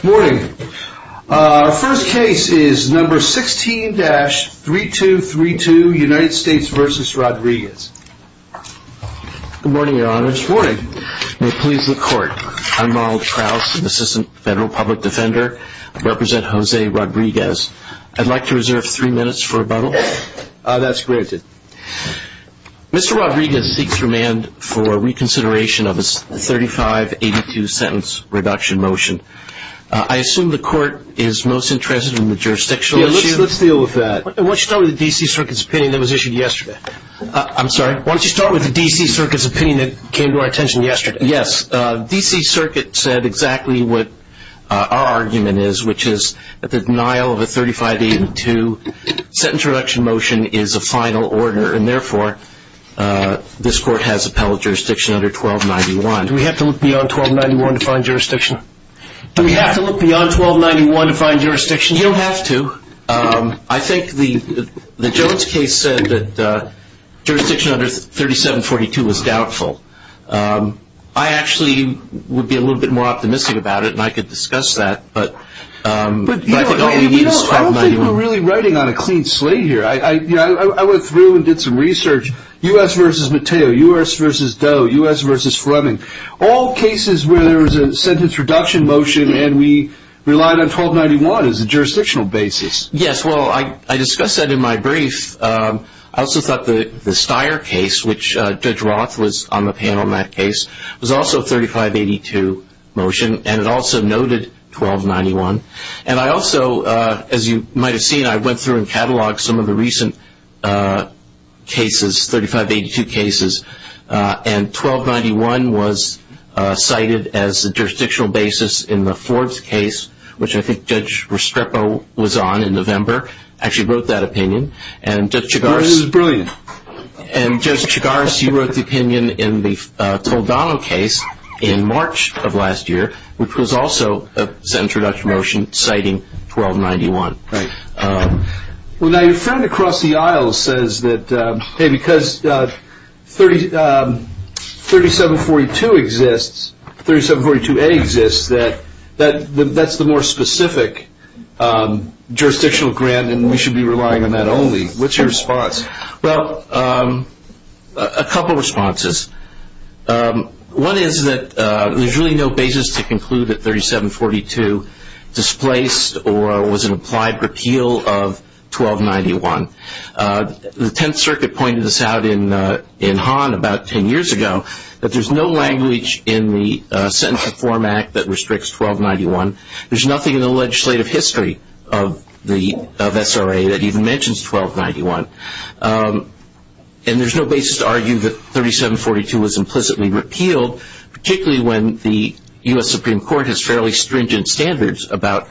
Good morning. Our first case is number 16-3232, United States v. Rodriguez. Good morning, your honor. Good morning. May it please the court. I'm Ronald Trous, an assistant federal public defender. I represent Jose Rodriguez. I'd like to reserve three minutes for rebuttal. That's granted. Mr. Rodriguez seeks remand for reconsideration of a 3582 sentence reduction motion. I assume the court is most interested in the jurisdictional issue. Yeah, let's deal with that. Why don't you start with the D.C. Circuit's opinion that was issued yesterday? I'm sorry? Why don't you start with the D.C. Circuit's opinion that came to our attention yesterday? Yes. The D.C. Circuit said exactly what our argument is, which is that the denial of a 3582 sentence reduction motion is a final order, and therefore this court has appellate jurisdiction under 1291. Do we have to look beyond 1291 to find jurisdiction? Do we have to look beyond 1291 to find jurisdiction? You don't have to. I think the Jones case said that jurisdiction under 3742 was doubtful. I actually would be a little bit more optimistic about it, and I could discuss that, but I think all you need is 1291. I don't think we're really riding on a clean slate here. I went through and did some research. U.S. v. Matteo, U.S. v. Doe, U.S. v. Fleming, all cases where there was a sentence reduction motion and we relied on 1291 as a jurisdictional basis. Yes, well, I discussed that in my brief. I also thought the Steyer case, which Judge Roth was on the panel in that case, was also a 3582 motion, and it also noted 1291. And I also, as you might have seen, I went through and catalogued some of the recent cases, 3582 cases, and 1291 was cited as the jurisdictional basis in the Forbes case, which I think Judge Restrepo was on in November, actually wrote that opinion. This is brilliant. And Judge Chigaris, you wrote the opinion in the Toledano case in March of last year, which was also a sentence reduction motion citing 1291. Right. Well, now, your friend across the aisle says that, hey, because 3742 exists, 3742A exists, that that's the more specific jurisdictional grant and we should be relying on that only. What's your response? Well, a couple of responses. One is that there's really no basis to conclude that 3742 displaced or was an applied repeal of 1291. The Tenth Circuit pointed this out in Hahn about ten years ago, that there's no language in the Sentencing Form Act that restricts 1291. There's nothing in the legislative history of SRA that even mentions 1291. And there's no basis to argue that 3742 was implicitly repealed, particularly when the U.S. Supreme Court has fairly stringent standards about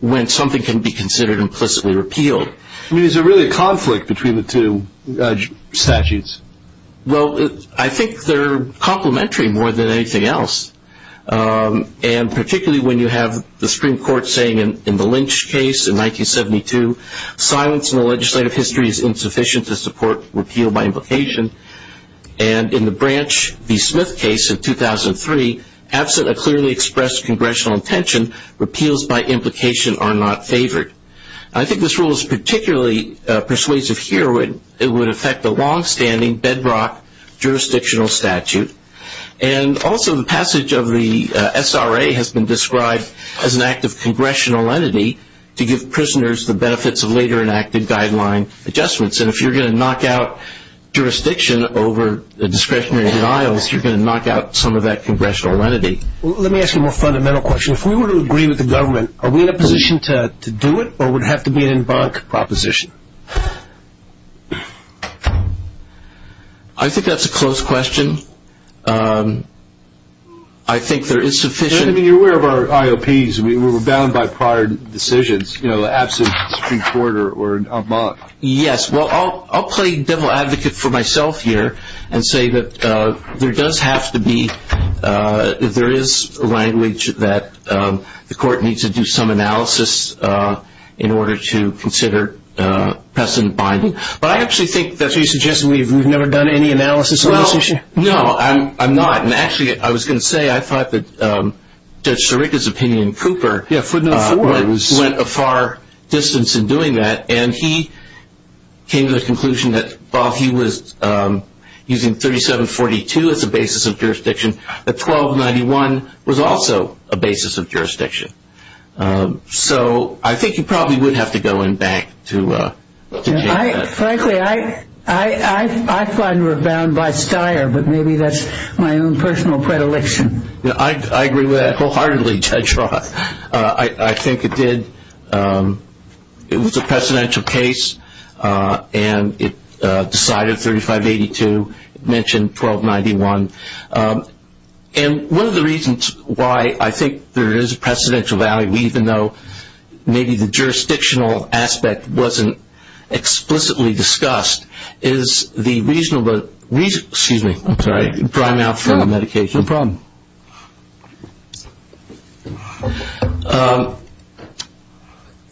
when something can be considered implicitly repealed. I mean, is there really a conflict between the two statutes? Well, I think they're complementary more than anything else. And particularly when you have the Supreme Court saying in the Lynch case in 1972, silence in the legislative history is insufficient to support repeal by implication. And in the Branch v. Smith case in 2003, absent a clearly expressed congressional intention, repeals by implication are not favored. I think this rule is particularly persuasive here. It would affect a longstanding bedrock jurisdictional statute. And also the passage of the SRA has been described as an act of congressional entity to give prisoners the benefits of later enacted guideline adjustments. And if you're going to knock out jurisdiction over discretionary denials, you're going to knock out some of that congressional entity. Let me ask you a more fundamental question. If we were to agree with the government, are we in a position to do it, or would it have to be an en banc proposition? I think that's a close question. I think there is sufficient. I mean, you're aware of our IOPs. We were bound by prior decisions, you know, the absence of a Supreme Court or an en banc. Yes. Well, I'll play devil advocate for myself here and say that there does have to be, there is language that the court needs to do some analysis in order to consider President Biden. But I actually think that you're suggesting we've never done any analysis on this issue? Well, no, I'm not. And actually I was going to say I thought that Judge Sirica's opinion in Cooper went a far distance in doing that. And he came to the conclusion that while he was using 3742 as a basis of jurisdiction, that 1291 was also a basis of jurisdiction. So I think you probably would have to go en banc to change that. Frankly, I find we're bound by styre, but maybe that's my own personal predilection. I agree with that wholeheartedly, Judge Roth. I think it did, it was a precedential case, and it decided 3582, mentioned 1291. And one of the reasons why I think there is a precedential value, even though maybe the jurisdictional aspect wasn't explicitly discussed, is the reasonable, excuse me, I'm sorry, dry mouth from the medication. No problem.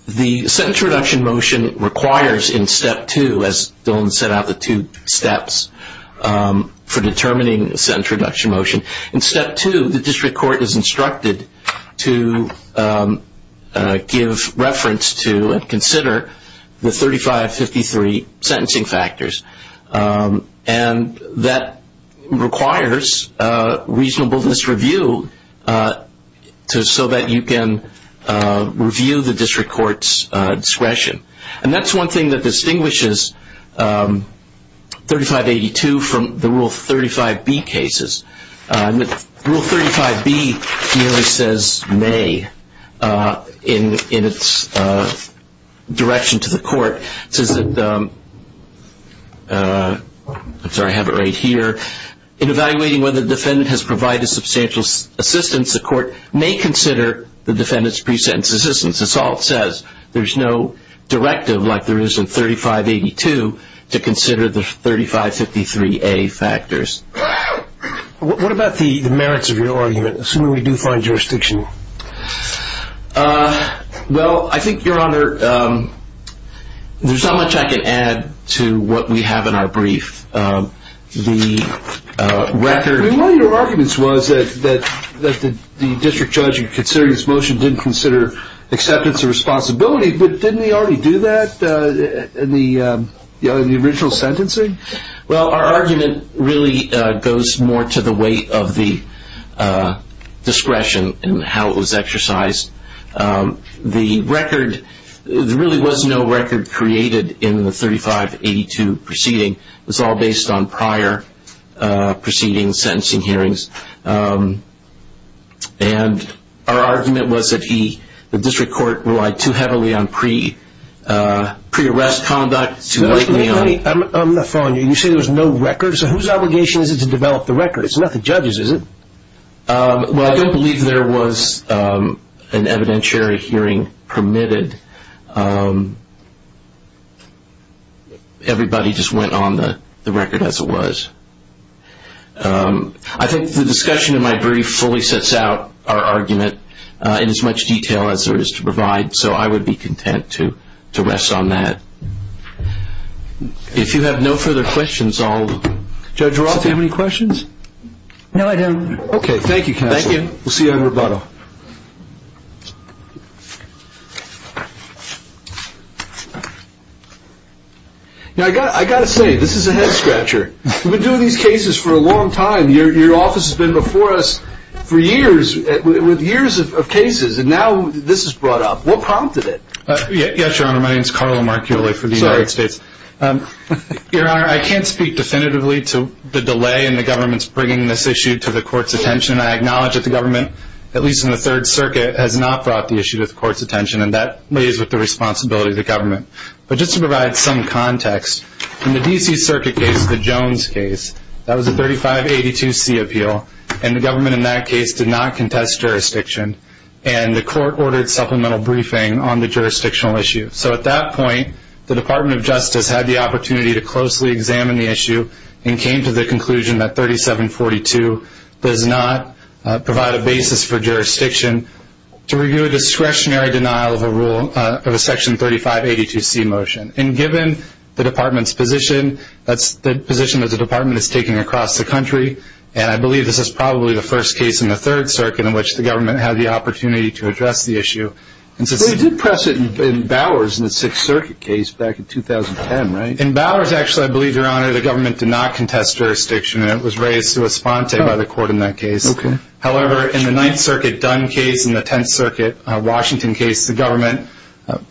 The sentence reduction motion requires in step two, as Dillon set out the two steps for determining the sentence reduction motion, in step two the district court is instructed to give reference to and consider the 3553 sentencing factors. And that requires reasonableness review so that you can review the district court's discretion. And that's one thing that distinguishes 3582 from the Rule 35B cases. Rule 35B merely says may in its direction to the court. It says that, I'm sorry, I have it right here. In evaluating whether the defendant has provided substantial assistance, the court may consider the defendant's pre-sentence assistance. That's all it says. There's no directive like there is in 3582 to consider the 3553A factors. What about the merits of your argument, assuming we do find jurisdiction? Well, I think, Your Honor, there's not much I can add to what we have in our brief. One of your arguments was that the district judge in considering this motion didn't consider acceptance of responsibility, but didn't he already do that in the original sentencing? Well, our argument really goes more to the weight of the discretion and how it was exercised. There really was no record created in the 3582 proceeding. It was all based on prior proceedings, sentencing hearings. And our argument was that the district court relied too heavily on pre-arrest conduct. Wait a minute. I'm not following you. You say there was no record. So whose obligation is it to develop the record? It's not the judge's, is it? Well, I don't believe there was an evidentiary hearing permitted. Everybody just went on the record as it was. I think the discussion in my brief fully sets out our argument in as much detail as there is to provide, so I would be content to rest on that. If you have no further questions, I'll... Judge Roth, do you have any questions? No, I don't. Okay. Thank you, counsel. Thank you. We'll see you on rebuttal. Now, I've got to say, this is a head-scratcher. We've been doing these cases for a long time. Your office has been before us for years with years of cases, and now this is brought up. What prompted it? Yes, Your Honor. My name is Carlo Marculli for the United States. Your Honor, I can't speak definitively to the delay in the government's bringing this issue to the court's attention. I acknowledge that the government, at least in the Third Circuit, has not brought the issue to the court's attention, and that lays with the responsibility of the government. But just to provide some context, in the D.C. Circuit case, the Jones case, that was a 3582C appeal, and the government in that case did not contest jurisdiction, and the court ordered supplemental briefing on the jurisdictional issue. So at that point, the Department of Justice had the opportunity to closely examine the issue and came to the conclusion that 3742 does not provide a basis for jurisdiction to review a discretionary denial of a Section 3582C motion. And given the Department's position, that's the position that the Department is taking across the country, and I believe this is probably the first case in the Third Circuit in which the government had the opportunity to address the issue. They did press it in Bowers in the Sixth Circuit case back in 2010, right? In Bowers, actually, I believe, Your Honor, the government did not contest jurisdiction, and it was raised to a sponte by the court in that case. However, in the Ninth Circuit Dunn case and the Tenth Circuit Washington case, the government,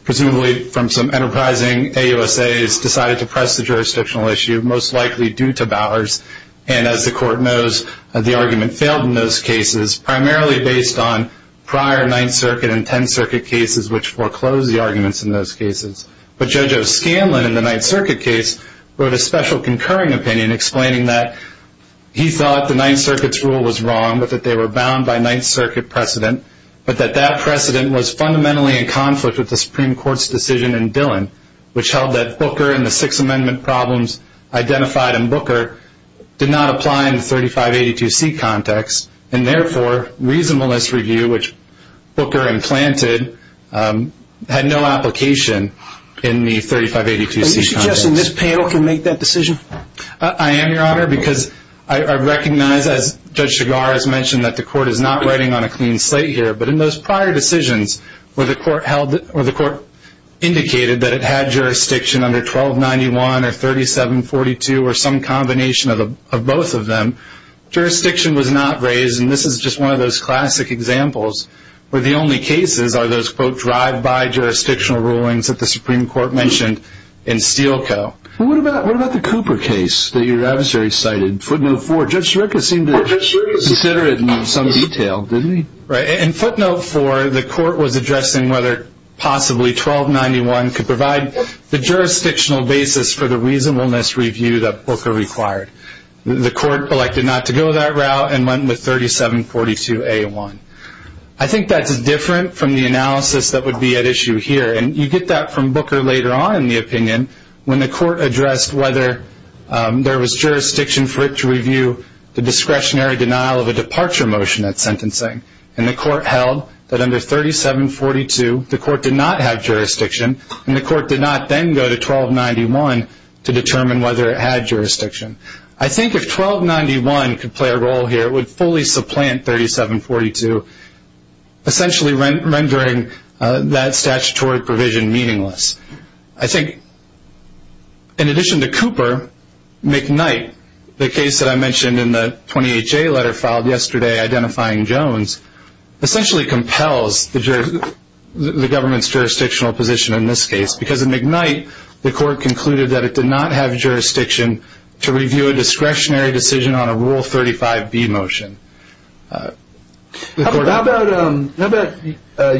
presumably from some enterprising AUSAs, decided to press the jurisdictional issue, most likely due to Bowers, and as the court knows, the argument failed in those cases, primarily based on prior Ninth Circuit and Tenth Circuit cases, which foreclosed the arguments in those cases. But Judge O'Scanlan in the Ninth Circuit case wrote a special concurring opinion explaining that he thought the Ninth Circuit's rule was wrong, but that they were bound by Ninth Circuit precedent, but that that precedent was fundamentally in conflict with the Supreme Court's decision in Dillon, which held that Booker and the Sixth Amendment problems identified in Booker did not apply in the 3582C context, and therefore reasonableness review, which Booker implanted, had no application in the 3582C context. Are you suggesting this panel can make that decision? I am, Your Honor, because I recognize, as Judge Shigar has mentioned, that the court is not riding on a clean slate here, but in those prior decisions where the court indicated that it had jurisdiction under 1291 or 3742 or some combination of both of them, jurisdiction was not raised, and this is just one of those classic examples where the only cases are those quote, drive-by jurisdictional rulings that the Supreme Court mentioned in Steele Co. What about the Cooper case that your adversary cited, footnote 4? Judge Scirecca seemed to consider it in some detail, didn't he? In footnote 4, the court was addressing whether possibly 1291 could provide the jurisdictional basis for the reasonableness review that Booker required. The court elected not to go that route and went with 3742A1. I think that's different from the analysis that would be at issue here, and you get that from Booker later on in the opinion when the court addressed whether there was jurisdiction for it to review the discretionary denial of a departure motion at sentencing, and the court held that under 3742 the court did not have jurisdiction, and the court did not then go to 1291 to determine whether it had jurisdiction. I think if 1291 could play a role here, it would fully supplant 3742, essentially rendering that statutory provision meaningless. I think in addition to Cooper, McKnight, the case that I mentioned in the 28J letter filed yesterday identifying Jones, essentially compels the government's jurisdictional position in this case because in McKnight, the court concluded that it did not have jurisdiction to review a discretionary decision on a Rule 35B motion. How about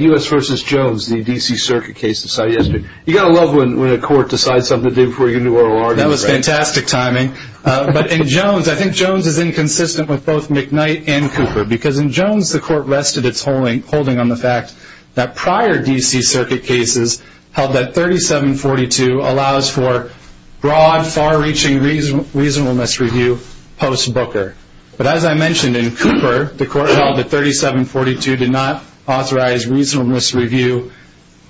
U.S. v. Jones, the D.C. Circuit case decided yesterday? You've got to love when a court decides something to do before you can do ROR. That was fantastic timing. But in Jones, I think Jones is inconsistent with both McKnight and Cooper because in Jones the court rested its holding on the fact that prior D.C. Circuit cases held that 3742 allows for broad, far-reaching reasonableness review post-Booker. But as I mentioned in Cooper, the court held that 3742 did not authorize reasonableness review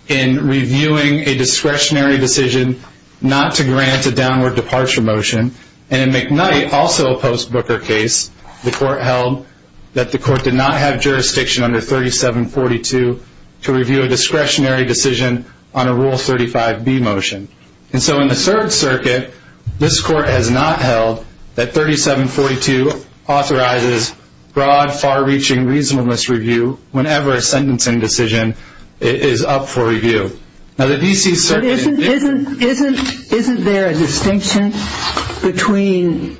in reviewing a discretionary decision not to grant a downward departure motion. And in McKnight, also a post-Booker case, the court held that the court did not have jurisdiction under 3742 to review a discretionary decision on a Rule 35B motion. And so in the 3rd Circuit, this court has not held that 3742 authorizes broad, far-reaching reasonableness review whenever a sentencing decision is up for review. Isn't there a distinction between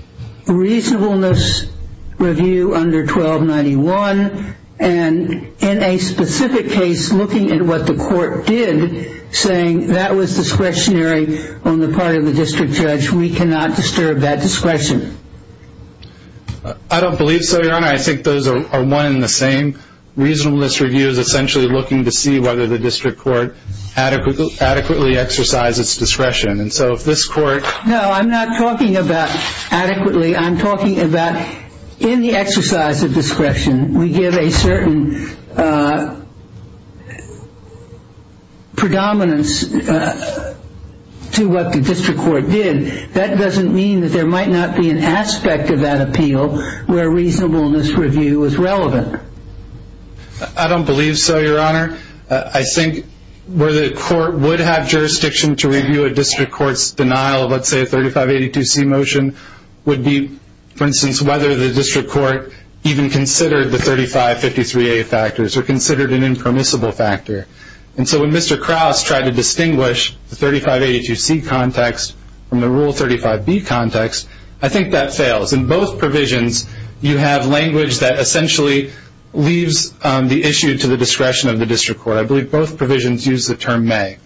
reasonableness review under 1291 and in a specific case looking at what the court did saying that was discretionary on the part of the district judge, we cannot disturb that discretion? I don't believe so, Your Honor. I think those are one and the same. Reasonableness review is essentially looking to see whether the district court adequately exercised its discretion. No, I'm not talking about adequately. I'm talking about in the exercise of discretion, we give a certain predominance to what the district court did. That doesn't mean that there might not be an aspect of that appeal where reasonableness review is relevant. I don't believe so, Your Honor. I think where the court would have jurisdiction to review a district court's denial of, let's say, a 3582C motion would be, for instance, whether the district court even considered the 3553A factors or considered an impermissible factor. And so when Mr. Krause tried to distinguish the 3582C context from the Rule 35B context, I think that fails. In both provisions, you have language that essentially leaves the issue to the discretion of the district court. I believe both provisions use the term may.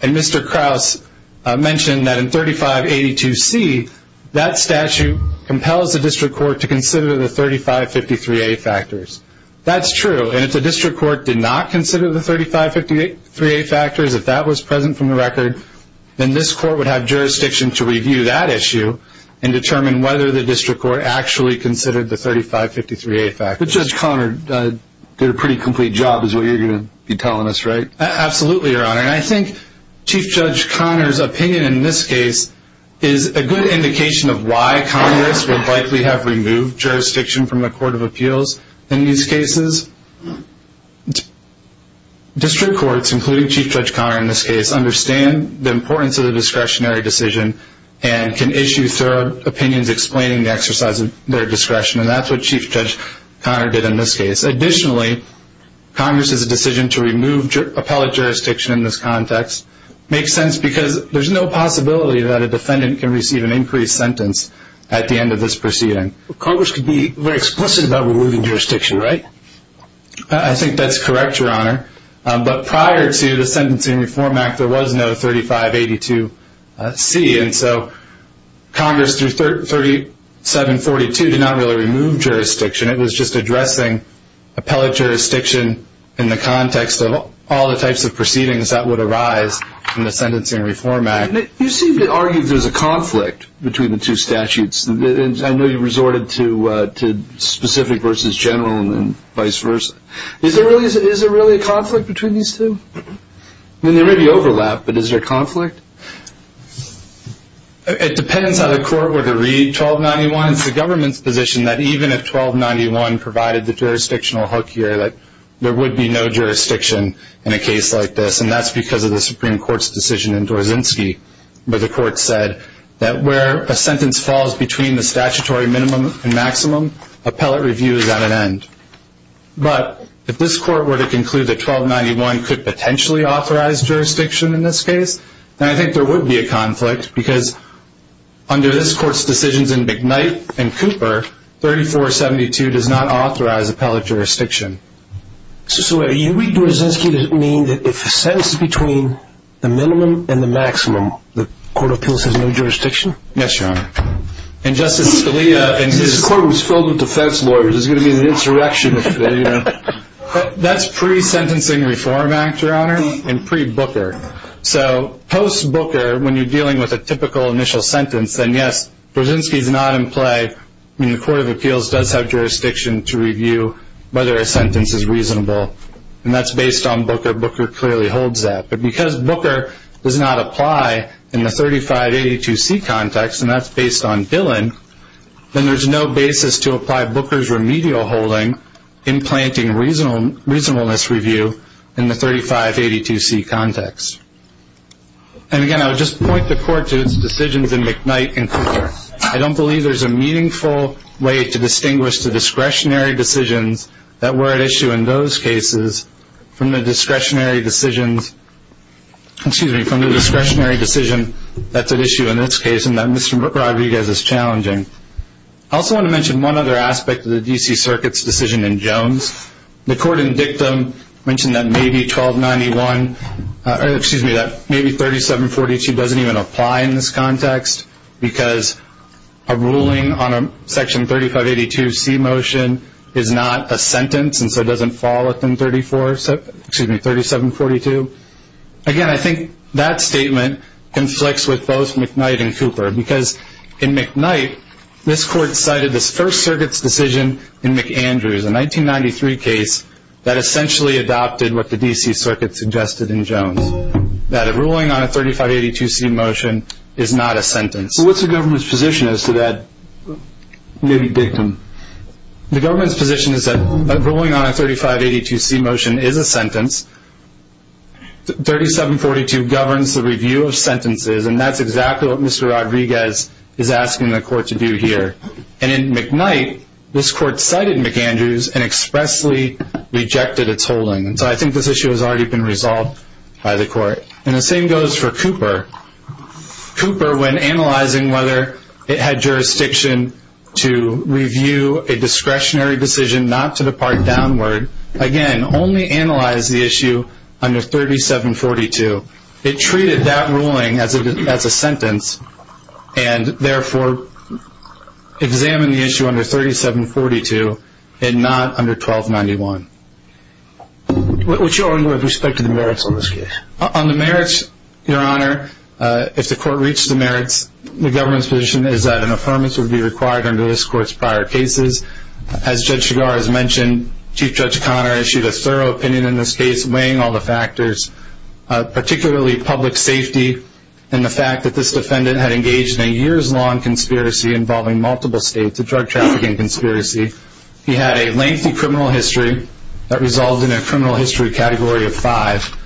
And Mr. Krause mentioned that in 3582C, that statute compels the district court to consider the 3553A factors. That's true. And if the district court did not consider the 3553A factors, if that was present from the record, then this court would have jurisdiction to review that issue and determine whether the district court actually considered the 3553A factors. But Judge Conard did a pretty complete job is what you're going to be telling us, right? Absolutely, Your Honor. And I think Chief Judge Conard's opinion in this case is a good indication of why Congress would likely have removed jurisdiction from the Court of Appeals in these cases. District courts, including Chief Judge Conard in this case, understand the importance of the discretionary decision and can issue thorough opinions explaining the exercise of their discretion. And that's what Chief Judge Conard did in this case. Additionally, Congress's decision to remove appellate jurisdiction in this context makes sense because there's no possibility that a defendant can receive an increased sentence at the end of this proceeding. Congress could be very explicit about removing jurisdiction, right? I think that's correct, Your Honor. But prior to the Sentencing Reform Act, there was no 3582C. And so Congress, through 3742, did not really remove jurisdiction. It was just addressing appellate jurisdiction in the context of all the types of proceedings that would arise in the Sentencing Reform Act. You seem to argue there's a conflict between the two statutes. I know you resorted to specific versus general and vice versa. Is there really a conflict between these two? I mean, there may be overlap, but is there conflict? It depends how the court were to read 1291. It's the government's position that even if 1291 provided the jurisdictional hook here, there would be no jurisdiction in a case like this, and that's because of the Supreme Court's decision in Dorzynski where the court said that where a sentence falls between the statutory minimum and maximum, appellate review is at an end. But if this court were to conclude that 1291 could potentially authorize jurisdiction in this case, then I think there would be a conflict because under this court's decisions in McKnight and Cooper, 3472 does not authorize appellate jurisdiction. So wait. Do Dorzynski mean that if a sentence is between the minimum and the maximum, the Court of Appeals has no jurisdiction? Yes, Your Honor. And Justice Scalia and his... This court was filled with defense lawyers. There's going to be an insurrection if they, you know... That's pre-Sentencing Reform Act, Your Honor, and pre-Booker. So post-Booker, when you're dealing with a typical initial sentence, then yes, Dorzynski's not in play. I mean, the Court of Appeals does have jurisdiction to review whether a sentence is reasonable, and that's based on Booker. Booker clearly holds that. But because Booker does not apply in the 3582C context, and that's based on Dillon, then there's no basis to apply Booker's remedial holding implanting reasonableness review in the 3582C context. And again, I would just point the court to its decisions in McKnight and Cooper. I don't believe there's a meaningful way to distinguish the discretionary decisions that were at issue in those cases from the discretionary decisions... excuse me, from the discretionary decision that's at issue in this case and that Mr. Rodriguez is challenging. I also want to mention one other aspect of the D.C. Circuit's decision in Jones. The court in dictum mentioned that maybe 1291... excuse me, that maybe 3742 doesn't even apply in this context because a ruling on a section 3582C motion is not a sentence and so it doesn't fall within 3742. Again, I think that statement conflicts with both McKnight and Cooper because in McKnight, this court cited this First Circuit's decision in McAndrews, a 1993 case that essentially adopted what the D.C. Circuit suggested in Jones, that a ruling on a 3582C motion is not a sentence. So what's the government's position as to that maybe dictum? The government's position is that a ruling on a 3582C motion is a sentence. 3742 governs the review of sentences, and that's exactly what Mr. Rodriguez is asking the court to do here. And in McKnight, this court cited McAndrews and expressly rejected its holding. So I think this issue has already been resolved by the court. And the same goes for Cooper. Cooper, when analyzing whether it had jurisdiction to review a discretionary decision not to depart downward, again, only analyzed the issue under 3742. It treated that ruling as a sentence and therefore examined the issue under 3742 and not under 1291. What's your angle with respect to the merits on this case? On the merits, Your Honor, if the court reached the merits, the government's position is that an affirmance would be required under this court's prior cases. As Judge Chigar has mentioned, Chief Judge Conner issued a thorough opinion in this case, weighing all the factors, particularly public safety and the fact that this defendant had engaged in a years-long conspiracy involving multiple states, a drug trafficking conspiracy. He had a lengthy criminal history that resolved in a criminal history category of five,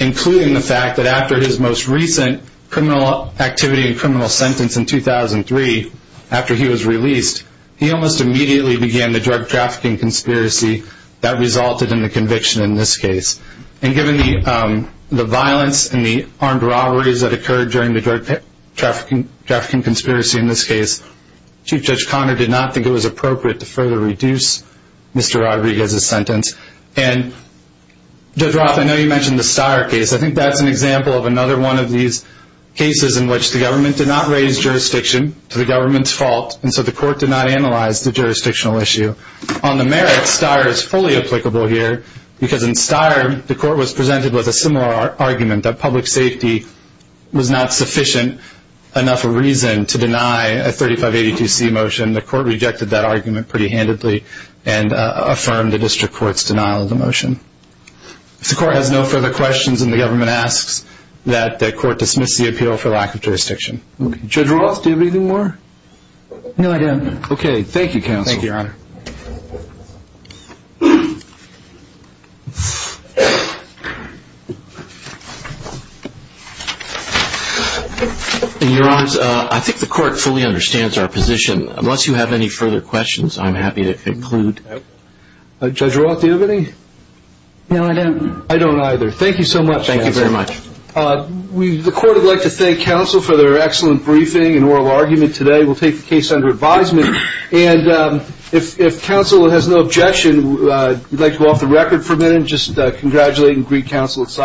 including the fact that after his most recent criminal activity and criminal sentence in 2003, after he was released, he almost immediately began the drug trafficking conspiracy that resulted in the conviction in this case. And given the violence and the armed robberies that occurred during the drug trafficking conspiracy in this case, Chief Judge Conner did not think it was appropriate to further reduce Mr. Rodriguez's sentence. And Judge Roth, I know you mentioned the Steyer case. I think that's an example of another one of these cases in which the government did not raise jurisdiction to the government's fault, and so the court did not analyze the jurisdictional issue. On the merits, Steyer is fully applicable here, because in Steyer the court was presented with a similar argument that public safety was not sufficient enough a reason to deny a 3582C motion. The court rejected that argument pretty handedly and affirmed the district court's denial of the motion. If the court has no further questions and the government asks, that the court dismiss the appeal for lack of jurisdiction. Judge Roth, do you have anything more? No, I don't. Okay, thank you, counsel. Thank you, Your Honor. Your Honors, I think the court fully understands our position. Unless you have any further questions, I'm happy to conclude. Judge Roth, do you have any? No, I don't. I don't either. Thank you so much, counsel. Thank you very much. The court would like to thank counsel for their excellent briefing and oral argument today. We'll take the case under advisement. And if counsel has no objection, we'd like to go off the record for a minute and just congratulate and greet counsel.